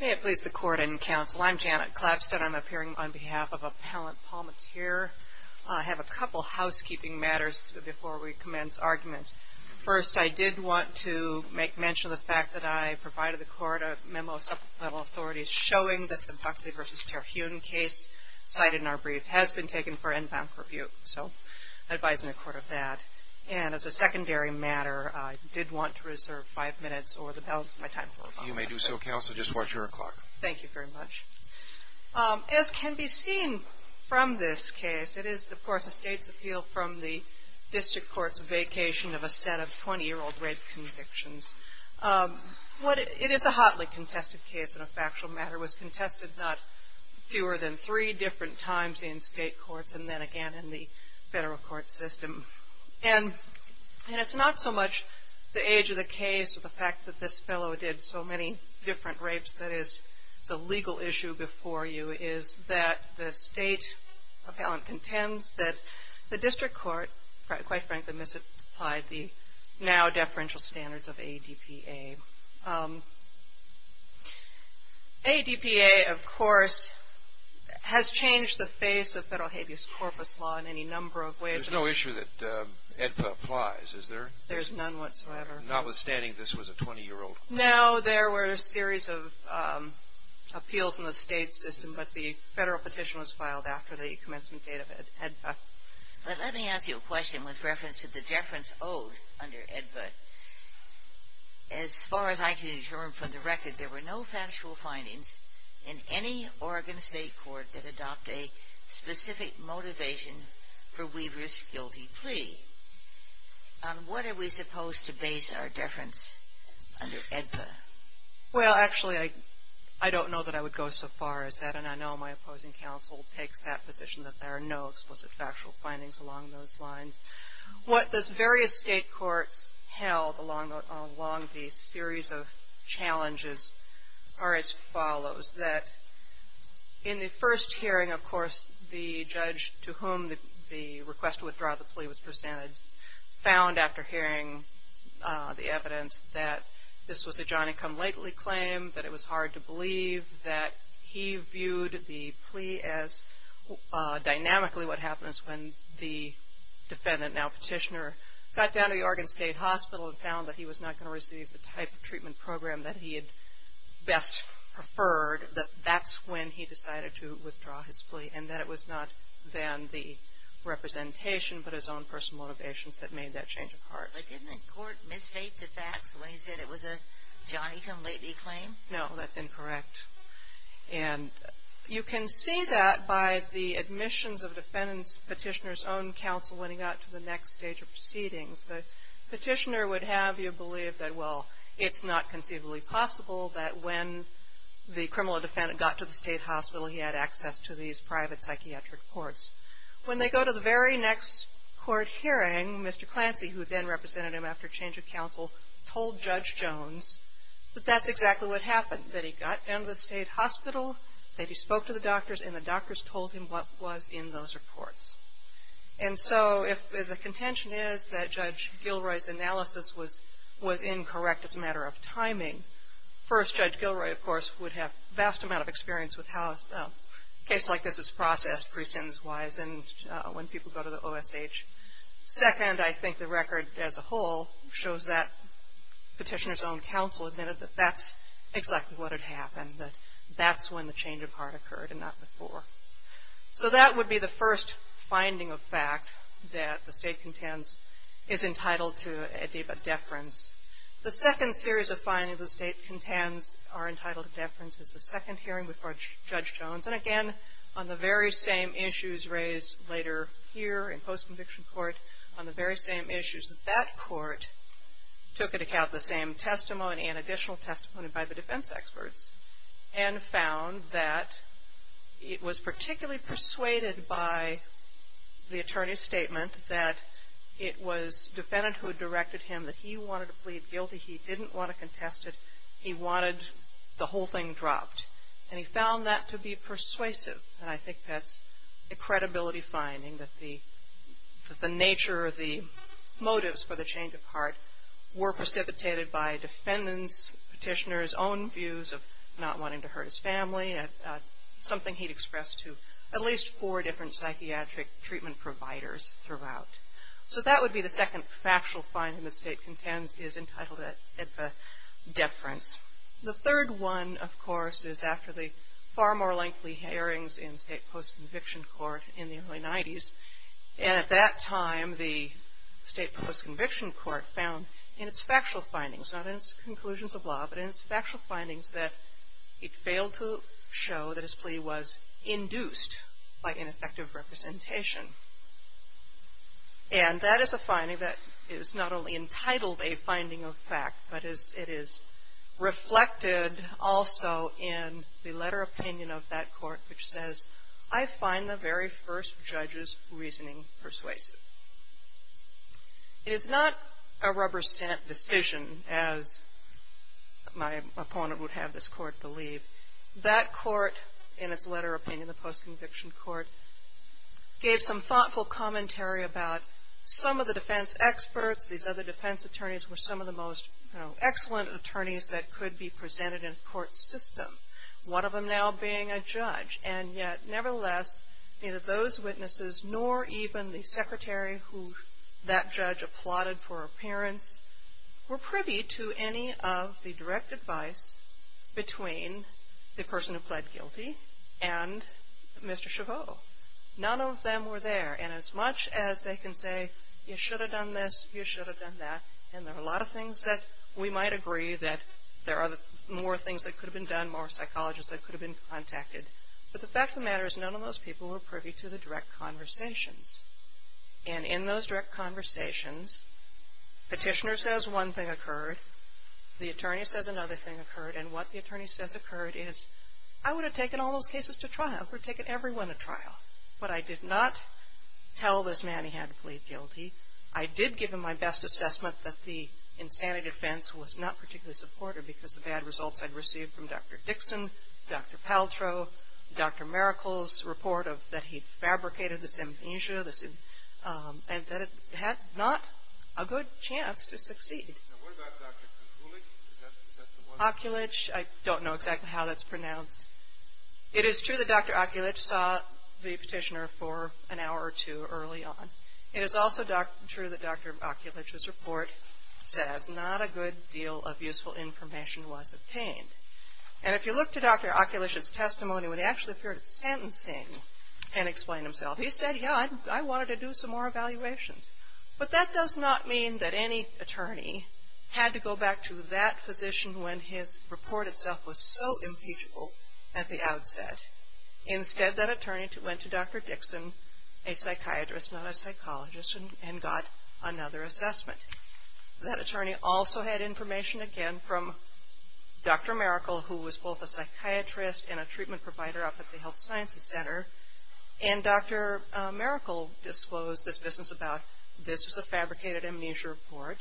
May it please the Court and Counsel, I'm Janet Clapstead. I'm appearing on behalf of Appellant Palmateer. I have a couple housekeeping matters before we commence argument. First, I did want to make mention of the fact that I provided the Court a memo of supplemental authority showing that the Buckley v. Terhune case cited in our brief has been taken for inbound purview. So, I advise in the Court of that. And as a secondary matter, I did want to reserve five minutes or the balance of my time. You may do so, Counsel. Just watch your clock. Thank you very much. As can be seen from this case, it is, of course, a state's appeal from the district court's vacation of a set of 20-year-old rape convictions. It is a hotly contested case in a factual matter. It was contested not fewer than three different times in state courts and then again in the federal court system. And it's not so much the age of the case or the fact that this fellow did so many different rapes that is the legal issue before you is that the state appellant contends that the district court, quite frankly, misapplied the now-deferential standards of ADPA. ADPA, of course, has changed the face of federal habeas corpus law in any number of ways. There's no issue that ADPA applies, is there? There's none whatsoever. Notwithstanding this was a 20-year-old. No, there were a series of appeals in the state system, but the federal petition was filed after the commencement date of ADPA. But let me ask you a question with reference to the deference owed under ADPA. As far as I can determine from the record, there were no factual findings in any Oregon state court that adopt a specific motivation for Weaver's guilty plea. On what are we supposed to base our deference under ADPA? Well, actually, I don't know that I would go so far as that, and I know my opposing counsel takes that position that there are no explicit factual findings along those lines. What those various state courts held along the series of challenges are as follows. That in the first hearing, of course, the judge to whom the request to withdraw the plea was presented found after hearing the evidence that this was a Johnny Come Lately claim, that it was hard to believe, that he viewed the plea as dynamically what happens when the defendant, now petitioner, got down to the Oregon State Hospital and found that he was not going to receive the type of treatment program that he had best preferred, that that's when he decided to withdraw his plea, and that it was not then the representation but his own personal motivations that made that change of heart. But didn't the court misstate the facts when he said it was a Johnny Come Lately claim? No, that's incorrect. And you can see that by the admissions of the defendant's petitioner's own counsel when he got to the next stage of proceedings. The petitioner would have you believe that, well, it's not conceivably possible that when the criminal defendant got to the state hospital, he had access to these private psychiatric courts. When they go to the very next court hearing, Mr. Clancy, who then represented him after change of counsel, told Judge Jones that that's exactly what happened, that he got down to the state hospital, that he spoke to the doctors, and the doctors told him what was in those reports. And so if the contention is that Judge Gilroy's analysis was incorrect as a matter of timing, first, Judge Gilroy, of course, would have a vast amount of experience with how a case like this is processed, precedence-wise, and when people go to the OSH. Second, I think the record as a whole shows that petitioner's own counsel admitted that that's exactly what had happened, that that's when the change of heart occurred and not before. So that would be the first finding of fact, that the state contends is entitled to a deference. The second series of findings the state contends are entitled to deference is the second hearing with Judge Jones. And again, on the very same issues raised later here in post-conviction court, on the very same issues that that court took into account the same testimony and additional testimony by the defense experts, and found that it was particularly persuaded by the attorney's statement that it was defendant who directed him that he wanted to plead guilty, he didn't want to contest it, he wanted the whole thing dropped. And he found that to be persuasive. And I think that's a credibility finding that the nature of the motives for the change of heart were precipitated by defendants, petitioner's own views of not wanting to hurt his family, something he'd expressed to at least four different psychiatric treatment providers throughout. So that would be the second factual finding the state contends is entitled to a deference. The third one, of course, is after the far more lengthy hearings in state post-conviction court in the early 90s. And at that time, the state post-conviction court found in its factual findings, not in its conclusions of law, but in its factual findings, that it failed to show that his plea was induced by ineffective representation. And that is a finding that is not only entitled a finding of fact, but it is reflected also in the letter of opinion of that court, which says, I find the very first judge's reasoning persuasive. It is not a rubber stamp decision, as my opponent would have this court believe. That court, in its letter of opinion, the post-conviction court, gave some thoughtful commentary about some of the defense experts. These other defense attorneys were some of the most excellent attorneys that could be presented in a court system, one of them now being a judge. And yet, nevertheless, neither those witnesses nor even the secretary who that judge applauded for appearance were privy to any of the direct advice between the person who pled guilty and Mr. Chabot. None of them were there. And as much as they can say, you should have done this, you should have done that, and there are a lot of things that we might agree that there are more things that could have been done, more psychologists that could have been contacted, but the fact of the matter is none of those people were privy to the direct conversations. And in those direct conversations, petitioner says one thing occurred. The attorney says another thing occurred. And what the attorney says occurred is, I would have taken all those cases to trial. I would have taken everyone to trial. But I did not tell this man he had to plead guilty. I did give him my best assessment that the insanity defense was not particularly supportive because of the bad results I'd received from Dr. Dixon, Dr. Paltrow, Dr. Maracle's report that he fabricated the symptoms, and that it had not a good chance to succeed. Now, what about Dr. Okulich? Is that the one? Okulich, I don't know exactly how that's pronounced. It is true that Dr. Okulich saw the petitioner for an hour or two early on. It is also true that Dr. Okulich's report says not a good deal of useful information was obtained. And if you look to Dr. Okulich's testimony, when he actually appeared at sentencing and explained himself, he said, yeah, I wanted to do some more evaluations. But that does not mean that any attorney had to go back to that physician when his report itself was so impeachable at the outset. Instead, that attorney went to Dr. Dixon, a psychiatrist, not a psychologist, and got another assessment. That attorney also had information, again, from Dr. Maracle, who was both a psychiatrist and a treatment provider up at the Health Sciences Center. And Dr. Maracle disclosed this business about this was a fabricated amnesia report,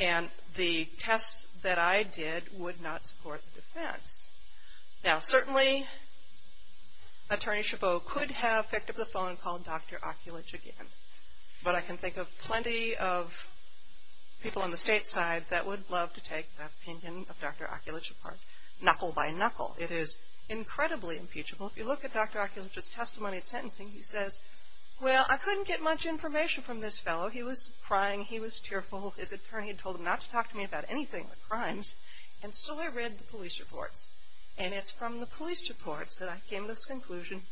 and the tests that I did would not support the defense. Now, certainly, Attorney Chabot could have picked up the phone and called Dr. Okulich again. But I can think of plenty of people on the state side that would love to take the opinion of Dr. Okulich apart knuckle by knuckle. It is incredibly impeachable. If you look at Dr. Okulich's testimony at sentencing, he says, well, I couldn't get much information from this fellow. He was crying. He was tearful. His attorney had told him not to talk to me about anything but crimes. And so I read the police reports. And it's from the police reports that I came to this conclusion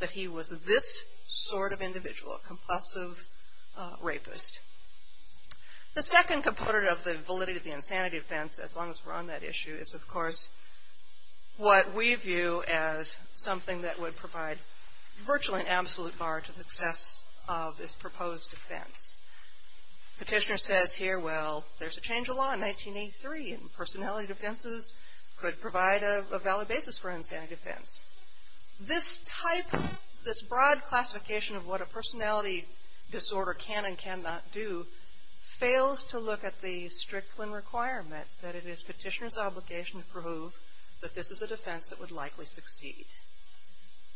that he was this sort of individual, a compulsive rapist. The second component of the validity of the insanity defense, as long as we're on that issue, is, of course, what we view as something that would provide virtually an absolute bar to the success of this proposed defense. Petitioner says here, well, there's a change of law in 1983, and personality defenses could provide a valid basis for an insanity defense. This type, this broad classification of what a personality disorder can and cannot do fails to look at the Strickland requirements that it is petitioner's obligation to prove that this is a defense that would likely succeed.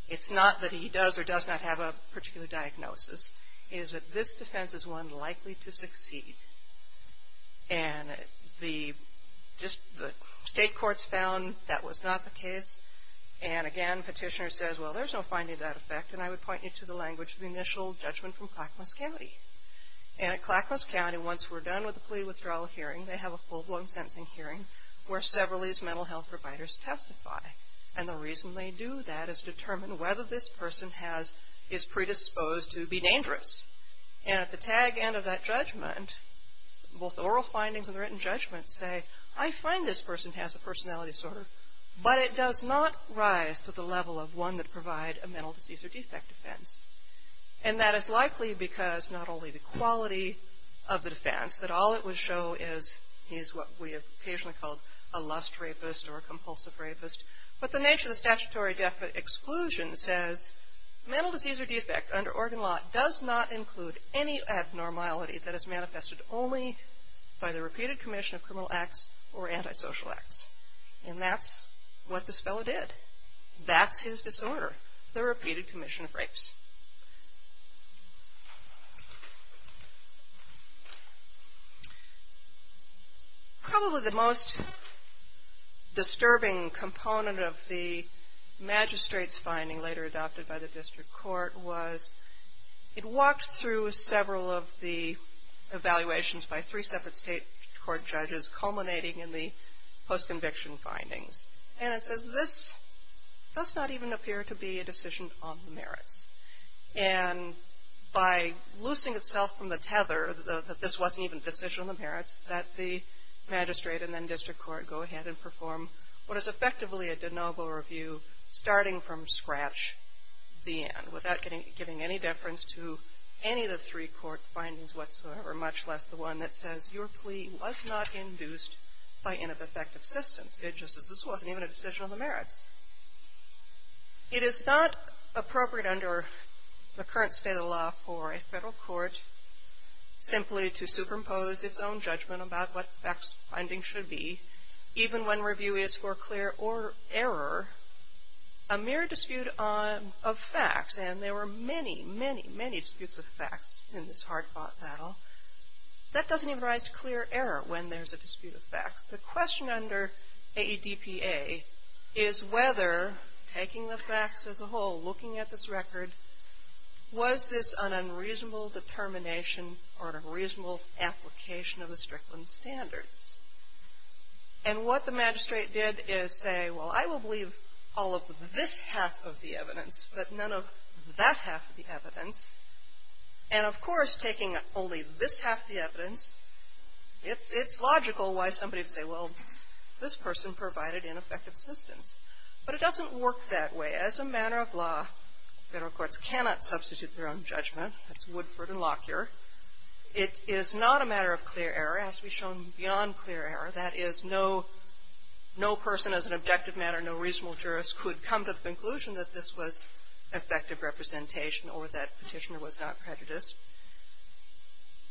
It's not that he does or does not have a particular diagnosis. It is that this defense is one likely to succeed. And the state courts found that was not the case. And, again, petitioner says, well, there's no finding of that effect. And I would point you to the language of the initial judgment from Clackamas County. And at Clackamas County, once we're done with the plea withdrawal hearing, they have a full-blown sentencing hearing where several of these mental health providers testify. And the reason they do that is to determine whether this person is predisposed to be dangerous. And at the tag end of that judgment, both oral findings and the written judgment say, I find this person has a personality disorder, but it does not rise to the level of one that provide a mental disease or defect defense. And that is likely because not only the quality of the defense, that all it would show is he's what we occasionally call a lust rapist or a compulsive rapist, but the nature of the statutory exclusion says mental disease or defect under Oregon law does not include any abnormality that is manifested only by the repeated commission of criminal acts or antisocial acts. And that's what this fellow did. That's his disorder, the repeated commission of rapes. Probably the most disturbing component of the magistrate's finding later adopted by the district court was it walked through several of the evaluations by three separate state court judges culminating in the post-conviction findings. And it says this does not even appear to be a decision on the merits. And by loosing itself from the tether that this wasn't even a decision on the merits, that the magistrate and then district court go ahead and perform what is effectively a de novo review starting from scratch, the end, without giving any deference to any of the three court findings whatsoever, much less the one that says your plea was not induced by ineffective assistance. It just says this wasn't even a decision on the merits. It is not appropriate under the current state of the law for a federal court simply to superimpose its own judgment about what facts finding should be, even when review is for clear or error. A mere dispute of facts, and there were many, many, many disputes of facts in this hard-fought battle, that doesn't even rise to clear error when there's a dispute of facts. The question under AEDPA is whether, taking the facts as a whole, looking at this record, was this an unreasonable determination or a reasonable application of the Strickland Standards? And what the magistrate did is say, well, I will believe all of this half of the evidence, but none of that half of the evidence. And, of course, taking only this half of the evidence, it's logical why somebody would say, well, this person provided ineffective assistance. But it doesn't work that way. As a matter of law, federal courts cannot substitute their own judgment. That's Woodford and Lockyer. It is not a matter of clear error, as we've shown, beyond clear error. That is, no person, as an objective matter, no reasonable jurist, could come to the conclusion that this was effective representation or that petitioner was not prejudiced.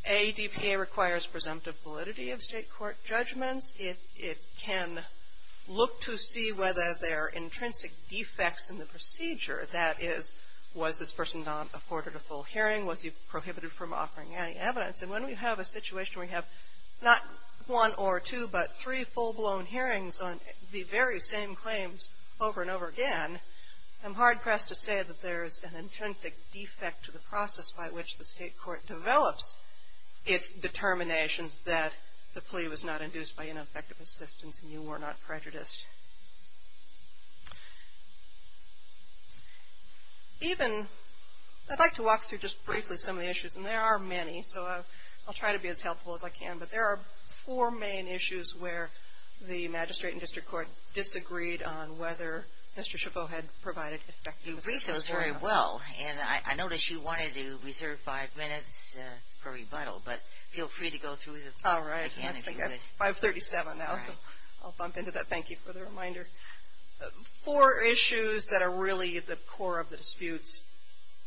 AEDPA requires presumptive validity of state court judgments. It can look to see whether there are intrinsic defects in the procedure. That is, was this person not afforded a full hearing? Was he prohibited from offering any evidence? And when we have a situation where we have not one or two, but three full-blown hearings on the very same claims over and over again, I'm hard-pressed to say that there's an intrinsic defect to the process by which the state court develops its determinations that the plea was not induced by ineffective assistance and you were not prejudiced. Even, I'd like to walk through just briefly some of the issues, and there are many, so I'll try to be as helpful as I can. But there are four main issues where the magistrate and district court disagreed on whether Mr. Chabot had provided effective assistance. You briefed us very well, and I noticed you wanted to reserve five minutes for rebuttal, but feel free to go through the mechanics of it. All right. I think I'm 537 now, so I'll bump into that. Thank you for the reminder. Four issues that are really the core of the disputes.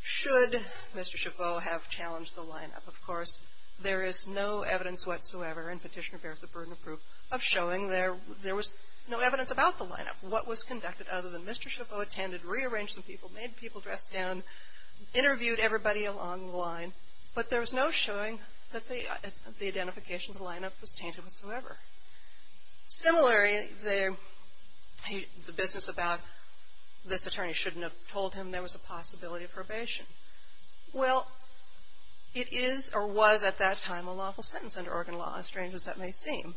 Should Mr. Chabot have challenged the lineup? Of course, there is no evidence whatsoever, and Petitioner bears the burden of proof, of showing there was no evidence about the lineup, what was conducted other than Mr. Chabot attended, rearranged some people, made people dress down, interviewed everybody along the line, but there was no showing that the identification of the lineup was tainted whatsoever. Similarly, the business about this attorney shouldn't have told him there was a possibility of probation. Well, it is or was at that time a lawful sentence under Oregon law, as strange as that may seem,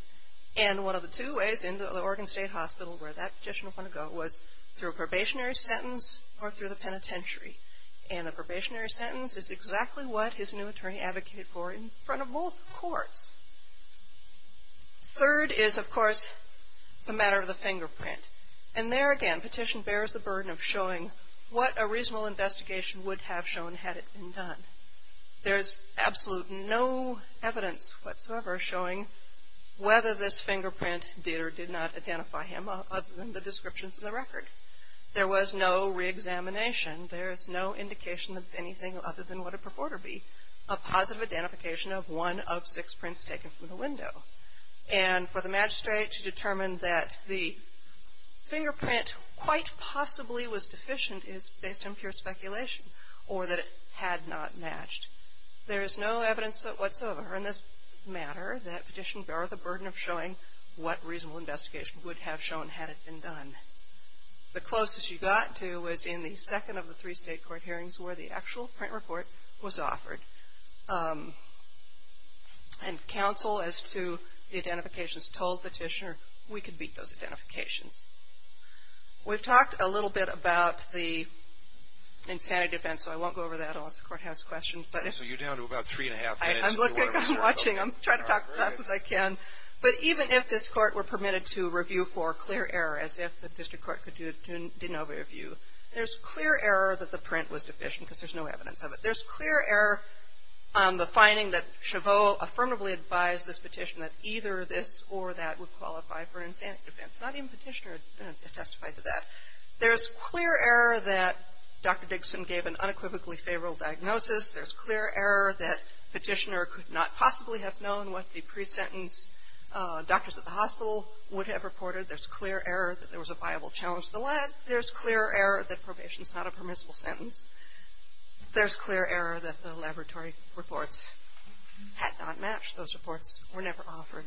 and one of the two ways into the Oregon State Hospital where that petition would want to go was through a probationary sentence or through the penitentiary, and the probationary sentence is exactly what his new attorney advocated for in front of both courts. Third is, of course, the matter of the fingerprint, and there again, the petition bears the burden of showing what a reasonable investigation would have shown had it been done. There is absolute no evidence whatsoever showing whether this fingerprint did or did not identify him other than the descriptions in the record. There was no re-examination. There is no indication of anything other than what it purported to be, a positive identification of one of six prints taken from the window, and for the magistrate to determine that the fingerprint quite possibly was deficient is based on pure speculation or that it had not matched. There is no evidence whatsoever in this matter that petitions bear the burden of showing what a reasonable investigation would have shown had it been done. The closest you got to was in the second of the three state court hearings where the actual print report was offered, and counsel as to the identifications told Petitioner we could beat those identifications. We've talked a little bit about the insanity defense, so I won't go over that unless the Court has questions. But if you're down to about three and a half minutes. I'm looking. I'm watching. I'm trying to talk as fast as I can. But even if this Court were permitted to review for clear error, as if the district court didn't have a review, there's clear error that the print was deficient because there's no evidence of it. There's clear error on the finding that Chabot affirmatively advised this petition that either this or that would qualify for an insanity defense. Not even Petitioner testified to that. There's clear error that Dr. Dixon gave an unequivocally favorable diagnosis. There's clear error that Petitioner could not possibly have known what the pre-sentence doctors at the hospital would have reported. There's clear error that there was a viable challenge to the lead. There's clear error that probation is not a permissible sentence. There's clear error that the laboratory reports had not matched. Those reports were never offered.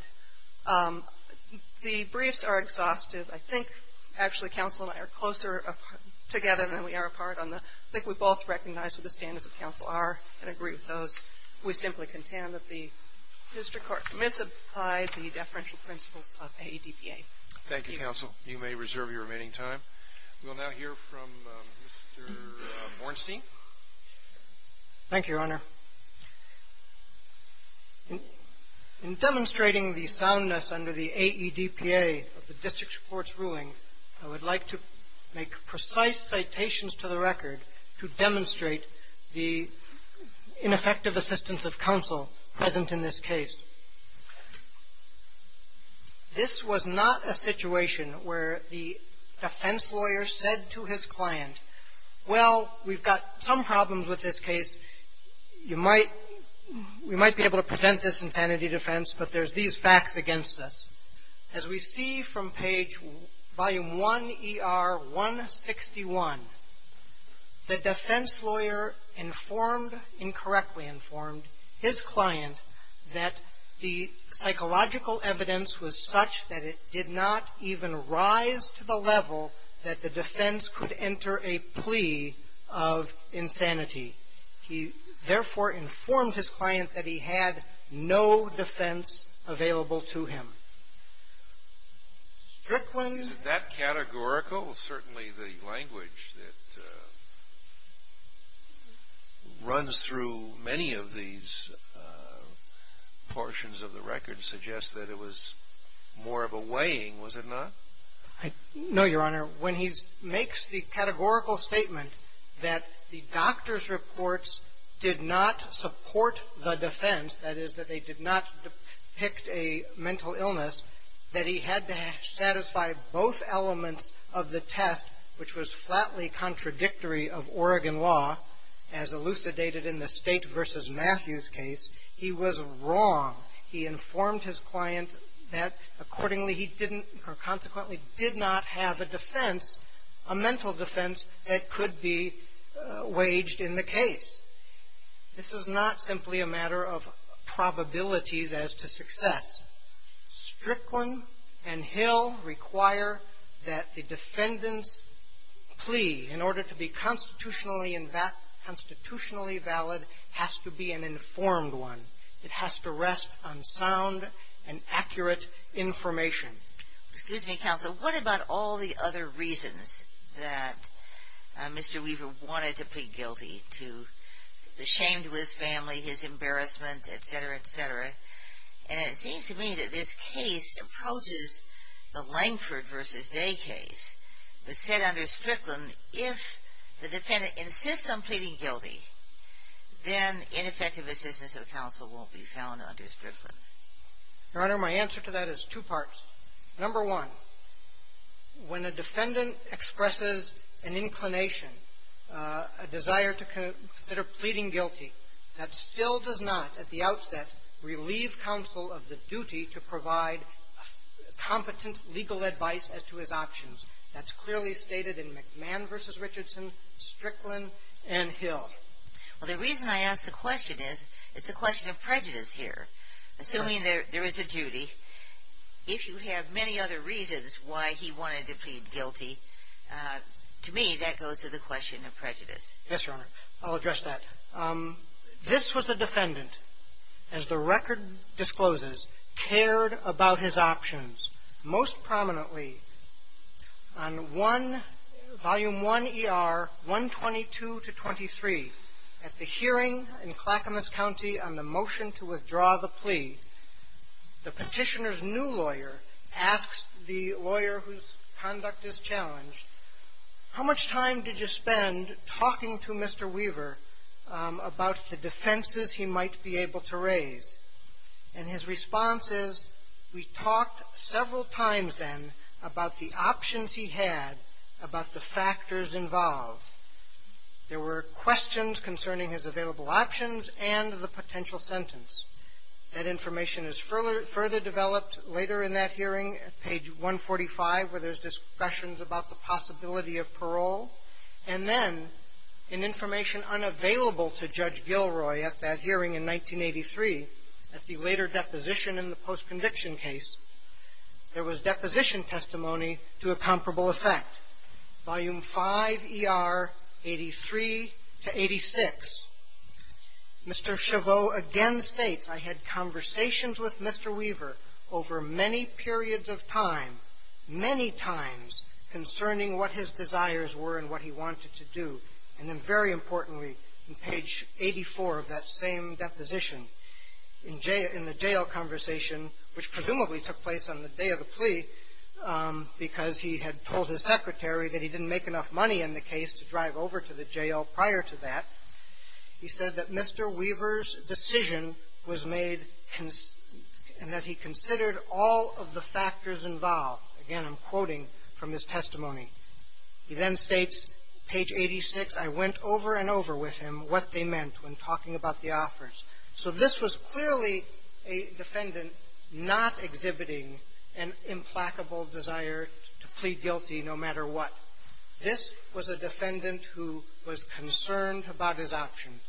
The briefs are exhaustive. I think actually counsel and I are closer together than we are apart. I think we both recognize what the standards of counsel are and agree with those. We simply contend that the district court misapplied the deferential principles of AEDPA. Thank you, counsel. You may reserve your remaining time. We'll now hear from Mr. Bornstein. Thank you, Your Honor. In demonstrating the soundness under the AEDPA of the district court's ruling, I would like to make precise citations to the record to demonstrate the ineffective assistance of counsel present in this case. This was not a situation where the defense lawyer said to his client, well, we've got some problems with this case. You might be able to present this in sanity defense, but there's these facts against us. As we see from page volume 1, ER 161, the defense lawyer informed, incorrectly informed, his client that the psychological evidence was such that it did not even rise to the level that the defense could enter a plea of insanity. He, therefore, informed his client that he had no defense available to him. Strickland ---- Is that categorical? Certainly the language that runs through many of these portions of the record suggests that it was more of a weighing, was it not? No, Your Honor. When he makes the categorical statement that the doctor's reports did not support the defense, that is, that they did not depict a mental illness, that he had to satisfy both elements of the test, which was flatly contradictory of Oregon law, as elucidated in the State v. Matthews case, he was wrong. He informed his client that accordingly he didn't or consequently did not have a defense, a mental defense that could be waged in the case. This is not simply a matter of probabilities as to success. Strickland and Hill require that the defendant's plea, in order to be constitutionally valid, has to be an informed one. It has to rest on sound and accurate information. Excuse me, counsel. What about all the other reasons that Mr. Weaver wanted to plead guilty to? The shame to his family, his embarrassment, et cetera, et cetera. And it seems to me that this case approaches the Langford v. Day case, which said under Strickland, if the defendant insists on pleading guilty, then ineffective assistance of counsel won't be found under Strickland. Your Honor, my answer to that is two parts. Number one, when a defendant expresses an inclination, a desire to consider pleading guilty, that still does not at the outset relieve counsel of the duty to provide competent legal advice as to his options. That's clearly stated in McMahon v. Richardson, Strickland, and Hill. Well, the reason I ask the question is it's a question of prejudice here. Assuming there is a duty, if you have many other reasons why he wanted to plead guilty, to me that goes to the question of prejudice. Yes, Your Honor. I'll address that. This was a defendant, as the record discloses, cared about his options. Most prominently, on one, Volume I, ER 122 to 23, at the hearing in Clackamas County on the motion to withdraw the plea, the petitioner's new lawyer asks the lawyer whose conduct is about the defenses he might be able to raise. And his response is, we talked several times then about the options he had, about the factors involved. There were questions concerning his available options and the potential sentence. That information is further developed later in that hearing, page 145, where there's discussions about the possibility of parole. And then, in information unavailable to Judge Gilroy at that hearing in 1983, at the later deposition in the post-conviction case, there was deposition testimony to a comparable effect, Volume V, ER 83 to 86. Mr. Chabot again states, I had conversations with Mr. Weaver over many periods of time, many times, concerning what his desires were and what he wanted to do. And then, very importantly, in page 84 of that same deposition, in the jail conversation, which presumably took place on the day of the plea because he had told his secretary that he didn't make enough money in the case to drive over to the jail prior to that, he said that Mr. Weaver's decision was made and that he considered all of the factors involved. Again, I'm quoting from his testimony. He then states, page 86, I went over and over with him what they meant when talking about the offers. So this was clearly a defendant not exhibiting an implacable desire to plead guilty no matter what. This was a defendant who was concerned about his options.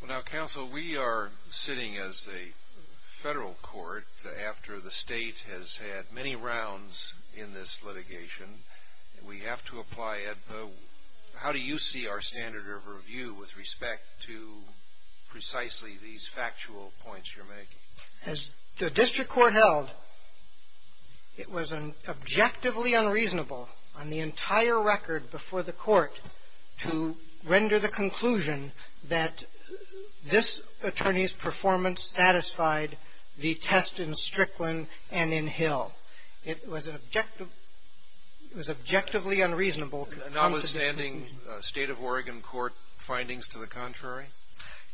Well, now, counsel, we are sitting as a federal court after the state has had many rounds in this litigation. We have to apply it. How do you see our standard of review with respect to precisely these factual points you're making? As the district court held, it was an objectively unreasonable on the entire record before the Court to render the conclusion that this attorney's performance satisfied the test in Strickland and in Hill. It was an objective – it was objectively unreasonable. Notwithstanding State of Oregon Court findings to the contrary?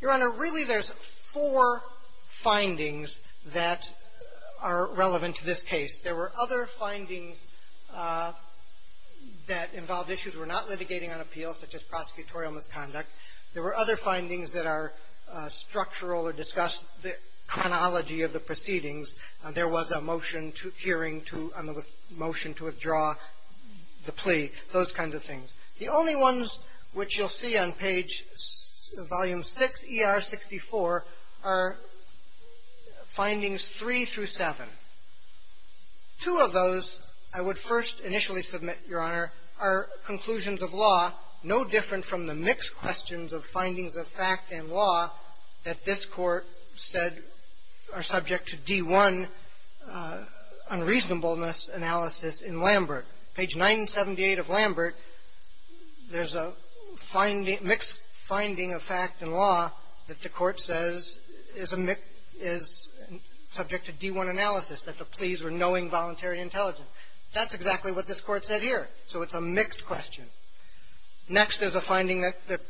Your Honor, really there's four findings that are relevant to this case. There were other findings that involved issues we're not litigating on appeal, such as prosecutorial misconduct. There were other findings that are structural or discussed the chronology of the proceedings. There was a motion to hearing to – I mean, a motion to withdraw the plea, those kinds of things. The only ones which you'll see on page – volume 6, ER 64, are findings 3 through 7. Two of those I would first initially submit, Your Honor, are conclusions of law no different from the mixed questions of findings of fact and law that this Court said are subject to D-1 unreasonableness analysis in Lambert. Page 978 of Lambert, there's a finding – mixed finding of fact and law that the Court says is a – is subject to D-1 analysis, that the pleas were knowing voluntary intelligence. That's exactly what this Court said here, so it's a mixed question. Next is a finding that the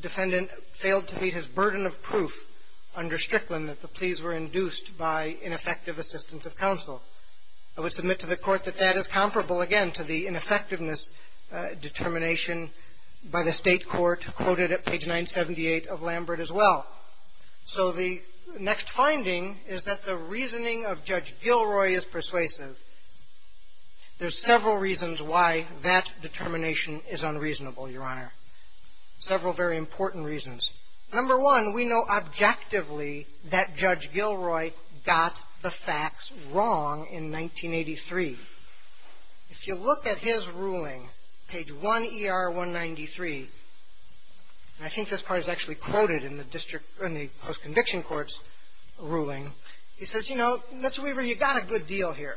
defendant failed to meet his burden of proof under Strickland and that the pleas were induced by ineffective assistance of counsel. I would submit to the Court that that is comparable, again, to the ineffectiveness determination by the State court quoted at page 978 of Lambert as well. So the next finding is that the reasoning of Judge Gilroy is persuasive. There's several reasons why that determination is unreasonable, Your Honor. Several very important reasons. Number one, we know objectively that Judge Gilroy got the facts wrong in 1983. If you look at his ruling, page 1er193, and I think this part is actually quoted in the district – in the post-conviction court's ruling, he says, you know, Mr. Weaver, you got a good deal here.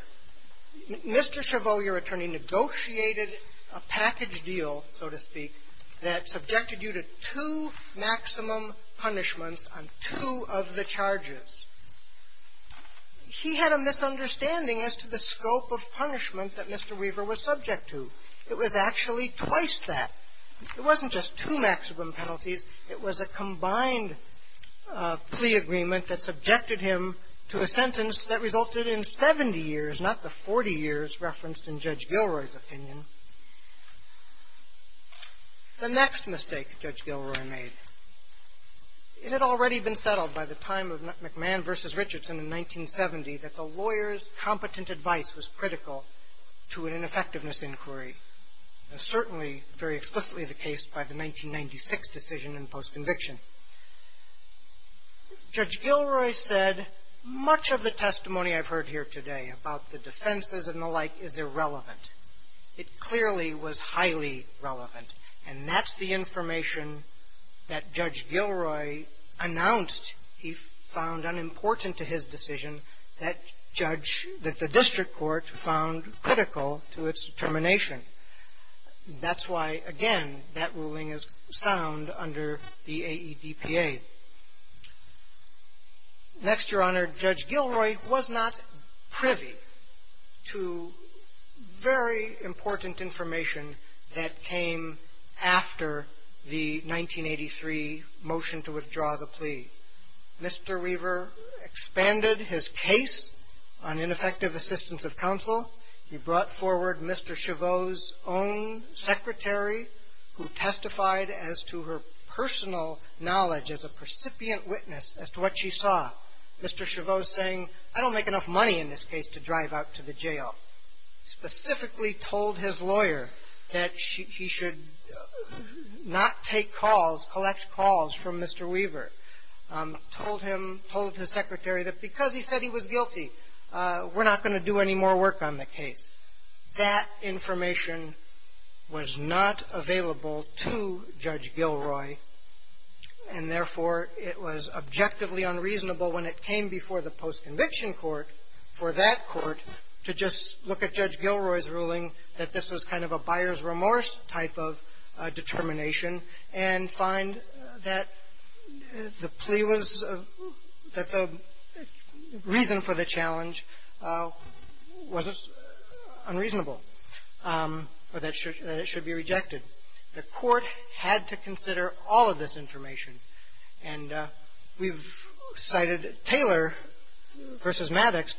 Mr. Chabot, your attorney, negotiated a package deal, so to speak, that subjected you to two maximum punishments on two of the charges. He had a misunderstanding as to the scope of punishment that Mr. Weaver was subject to. It was actually twice that. It wasn't just two maximum penalties. It was a combined plea agreement that subjected him to a sentence that resulted The next mistake Judge Gilroy made. It had already been settled by the time of McMahon v. Richardson in 1970 that the lawyer's competent advice was critical to an ineffectiveness inquiry. That's certainly very explicitly the case by the 1996 decision in post-conviction. Judge Gilroy said, much of the testimony I've heard here today about the defenses and the like is irrelevant. It clearly was highly relevant. And that's the information that Judge Gilroy announced he found unimportant to his decision that Judge – that the district court found critical to its determination. That's why, again, that ruling is sound under the AEDPA. Next, Your Honor, Judge Gilroy was not privy to very important information that came after the 1983 motion to withdraw the plea. Mr. Weaver expanded his case on ineffective assistance of counsel. He brought forward Mr. Chaveau's own secretary who testified as to her personal knowledge as a percipient witness as to what she saw. Mr. Chaveau saying, I don't make enough money in this case to drive out to the jail. Specifically told his lawyer that he should not take calls, collect calls from Mr. Weaver. Told him, told his secretary that because he said he was guilty, we're not going to do any more work on the case. That information was not available to Judge Gilroy. And, therefore, it was objectively unreasonable when it came before the post-conviction court for that court to just look at Judge Gilroy's ruling that this was kind of a buyer's remorse type of determination and find that the plea was – that the reason for the plea was unreasonable or that it should be rejected. The court had to consider all of this information. And we've cited Taylor v. Maddox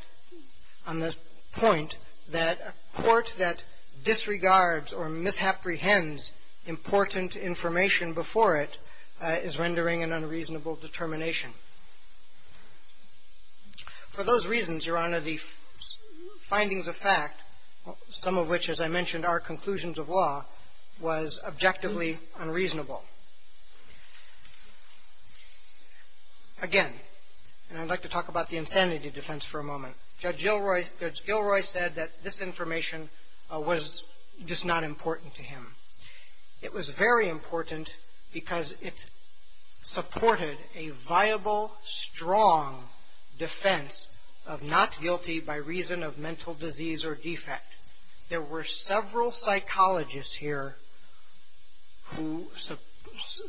on the point that a court that disregards or misapprehends important information before it is rendering an unreasonable determination. For those reasons, Your Honor, the findings of fact, some of which, as I mentioned, are conclusions of law, was objectively unreasonable. Again, and I'd like to talk about the insanity defense for a moment. Judge Gilroy said that this information was just not important to him. It was very important because it supported a viable, strong defense of not guilty by reason of mental disease or defect. There were several psychologists here who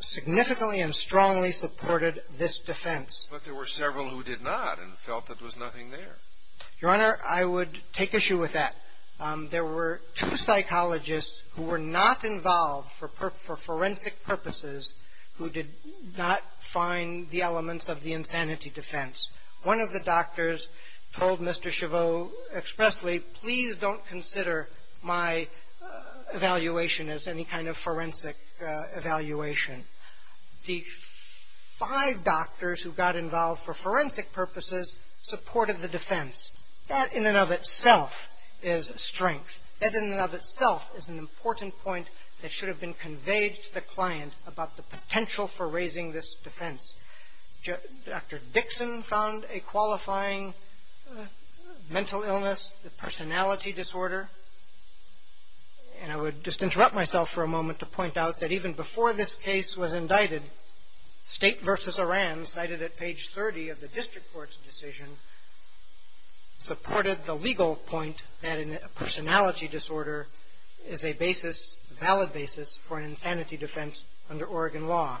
significantly and strongly supported this defense. But there were several who did not and felt that there was nothing there. Your Honor, I would take issue with that. There were two psychologists who were not involved for forensic purposes who did not find the elements of the insanity defense. One of the doctors told Mr. Chabot expressly, please don't consider my evaluation as any kind of forensic evaluation. The five doctors who got involved for forensic purposes supported the defense. That in and of itself is strength. That in and of itself is an important point that should have been conveyed to the client about the potential for raising this defense. Dr. Dixon found a qualifying mental illness, the personality disorder. And I would just interrupt myself for a moment to point out that even before this case was legal point that a personality disorder is a basis, a valid basis, for an insanity defense under Oregon law.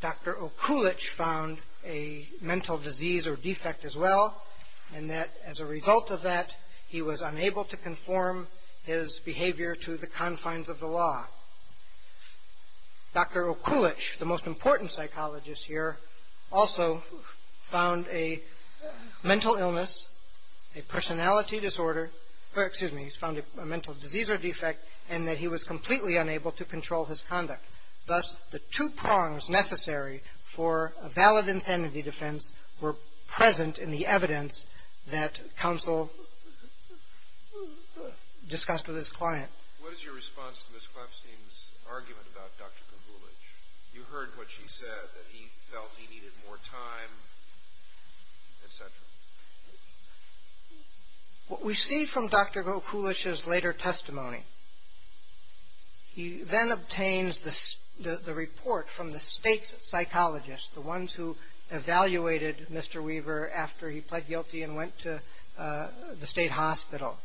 Dr. Okulich found a mental disease or defect as well, and that as a result of that, he was unable to conform his behavior to the confines of the law. Dr. Okulich, the most important psychologist here, also found a mental illness, a personality disorder, or excuse me, he found a mental disease or defect, and that he was completely unable to control his conduct. Thus, the two prongs necessary for a valid insanity defense were present in the evidence that counsel discussed with his client. What is your response to Ms. Klemstein's argument about Dr. Okulich? You heard what she said, that he felt he needed more time, et cetera. What we see from Dr. Okulich's later testimony, he then obtains the report from the state psychologists, the ones who evaluated Mr. Weaver after he pled guilty and went to the state hospital.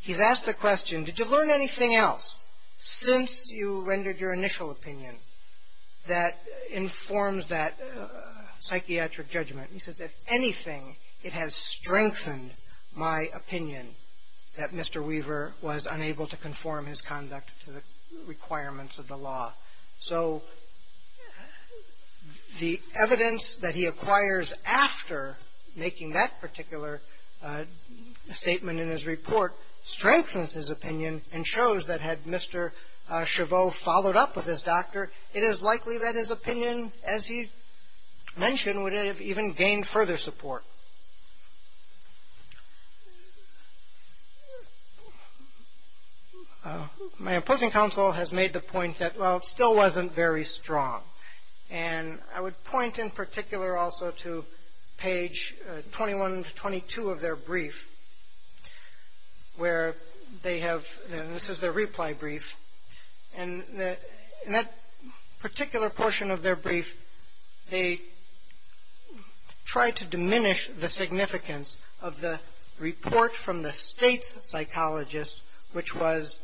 He's asked the question, did you learn anything else since you rendered your initial opinion that informs that psychiatric judgment? He says, if anything, it has strengthened my opinion that Mr. Weaver was unable to conform his conduct to the requirements of the law. So, the evidence that he acquires after making that particular statement in his report strengthens his opinion and shows that had Mr. Chabot followed up with his doctor, it is likely that his opinion, as he mentioned, would have even gained further support. My opposing counsel has made the point that, well, it still wasn't very strong. And I would point in particular also to page 21 to 22 of their brief where they have, and this is their reply brief, and in that particular portion of their brief, they try to diminish the significance of the report from the state psychologist, which was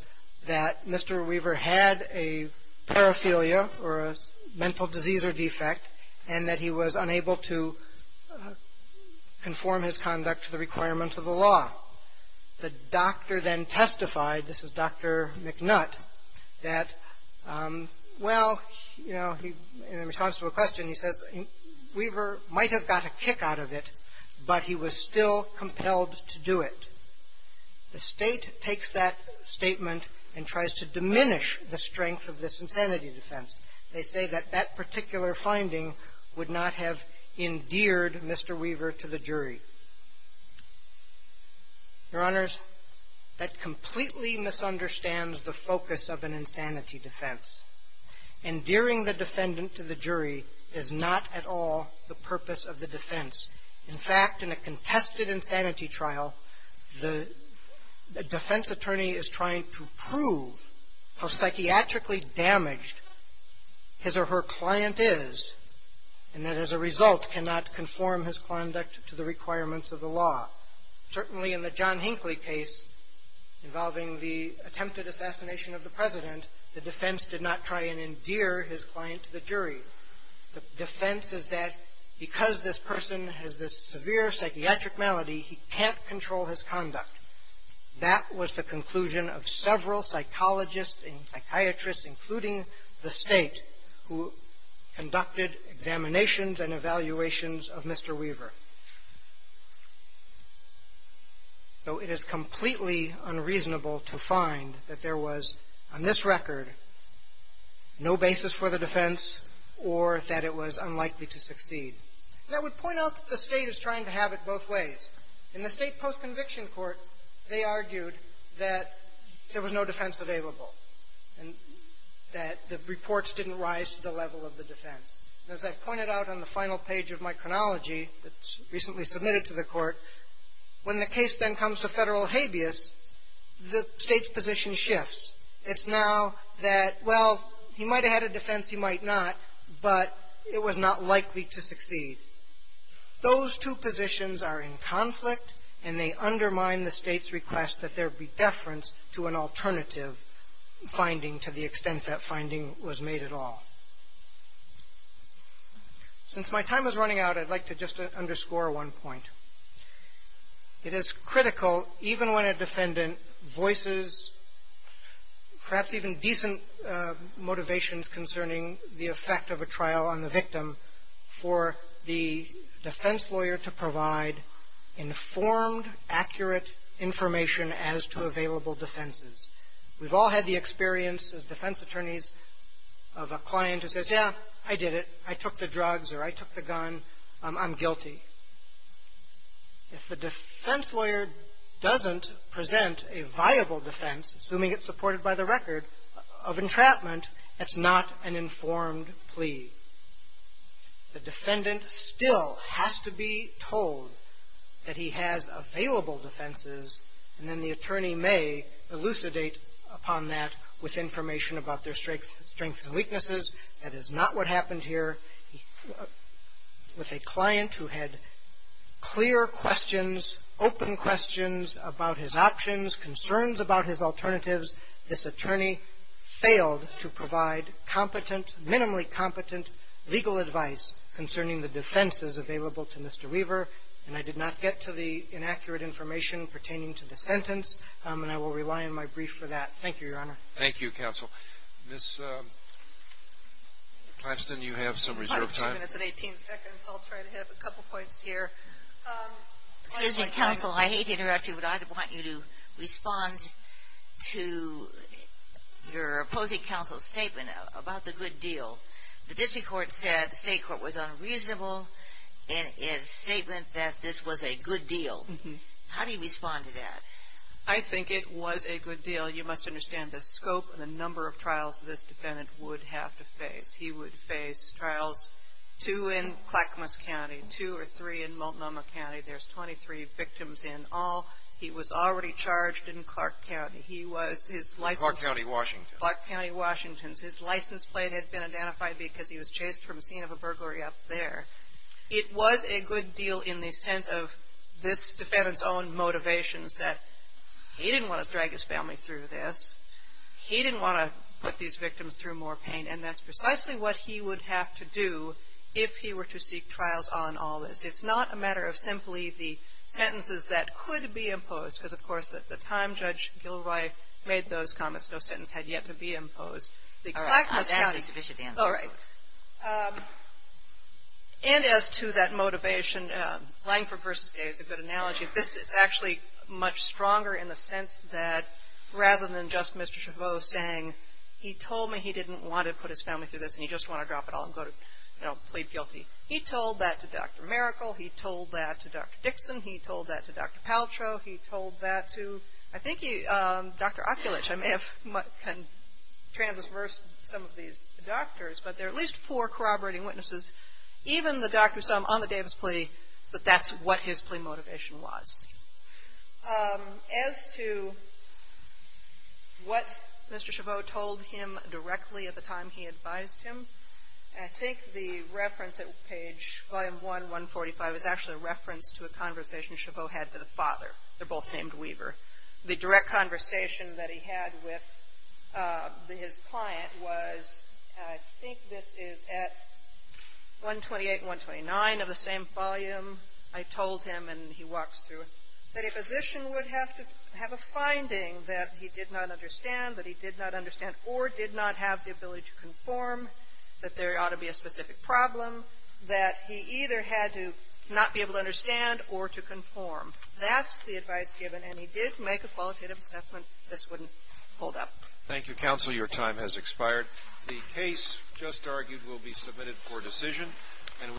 that Mr. Weaver had a paraphernalia or a mental disease or defect and that he was unable to conform his conduct to the requirements of the law. The doctor then testified, this is Dr. McNutt, that, well, you know, in response to a question, he says, Weaver might have got a kick out of it, but he was still compelled to do it. The state takes that statement and tries to diminish the strength of this insanity defense. They say that that particular finding would not have endeared Mr. Weaver to the jury. Your Honors, that completely misunderstands the focus of an insanity defense. Endearing the defendant to the jury is not at all the purpose of the defense. In fact, in a contested insanity trial, the defense attorney is trying to prove how his or her client is, and that as a result cannot conform his conduct to the requirements of the law. Certainly in the John Hinckley case involving the attempted assassination of the president, the defense did not try and endear his client to the jury. The defense is that because this person has this severe psychiatric malady, he can't control his conduct. That was the conclusion of several psychologists and psychiatrists, including the State, who conducted examinations and evaluations of Mr. Weaver. So it is completely unreasonable to find that there was, on this record, no basis for the defense or that it was unlikely to succeed. And I would point out that the State is trying to have it both ways. In the State post-conviction court, they argued that there was no defense available and that the reports didn't rise to the level of the defense. And as I've pointed out on the final page of my chronology that's recently submitted to the court, when the case then comes to federal habeas, the State's position shifts. It's now that, well, he might have had a defense, he might not, but it was not likely to succeed. Those two positions are in conflict, and they undermine the State's request that there be deference to an alternative finding to the extent that finding was made at all. Since my time is running out, I'd like to just underscore one point. It is critical, even when a defendant voices perhaps even decent motivations concerning the effect of a trial on the victim, for the defense lawyer to provide informed, accurate information as to available defenses. We've all had the experience as defense attorneys of a client who says, yeah, I did it. I took the drugs or I took the gun. I'm guilty. If the defense lawyer doesn't present a viable defense, assuming it's supported by the record of entrapment, that's not an informed plea. The defendant still has to be told that he has available defenses, and then the attorney may elucidate upon that with information about their strengths and weaknesses. That is not what happened here. With a client who had clear questions, open questions about his options, concerns about his alternatives, this attorney failed to provide competent, minimally competent legal advice concerning the defenses available to Mr. Weaver, and I did not get to the inaccurate information pertaining to the sentence, and I will rely on my brief for that. Thank you, Your Honor. Thank you, Counsel. Ms. Plaston, you have some reserve time. It's at 18 seconds. I'll try to have a couple points here. Excuse me, Counsel. I hate to interrupt you, but I want you to respond to your opposing counsel's statement about the good deal. The district court said the state court was unreasonable in its statement that this was a good deal. How do you respond to that? I think it was a good deal. You must understand the scope and the number of trials this defendant would have to face. He would face trials, two in Clackamas County, two or three in Multnomah County. There's 23 victims in all. He was already charged in Clark County. He was his license. Clark County, Washington. Clark County, Washington. His license plate had been identified because he was chased from a scene of a burglary up there. It was a good deal in the sense of this defendant's own motivations that he didn't want to drag his family through this. He didn't want to put these victims through more pain, and that's precisely what he would have to do if he were to seek trials on all this. It's not a matter of simply the sentences that could be imposed, because, of course, at the time Judge Gilroy made those comments, no sentence had yet to be imposed. The Clackamas County. All right. And as to that motivation, Langford v. Gay is a good analogy. This is actually much stronger in the sense that rather than just Mr. Chaveau saying, he told me he didn't want to put his family through this and he just wanted to drop it all and go to, you know, plead guilty. He told that to Dr. Maracle. He told that to Dr. Dixon. He told that to Dr. Paltrow. He told that to, I think, Dr. Okulich. I may have transversed some of these doctors, but there are at least four corroborating witnesses, even the doctor who saw him on the Davis plea, that that's what his plea motivation was. As to what Mr. Chaveau told him directly at the time he advised him, I think the reference at page volume 1, 145 is actually a reference to a conversation Chaveau had to the father. They're both named Weaver. The direct conversation that he had with his client was, I think this is at 128 and 129 of the same volume. I told him, and he walks through it, that a physician would have to have a finding that he did not understand, that he did not understand or did not have the ability to conform, that there ought to be a specific problem, that he either had to not be able to understand or to conform. That's the advice given, and he did make a qualitative assessment this wouldn't hold up. Thank you, counsel. Your time has expired. The case just argued will be submitted for decision.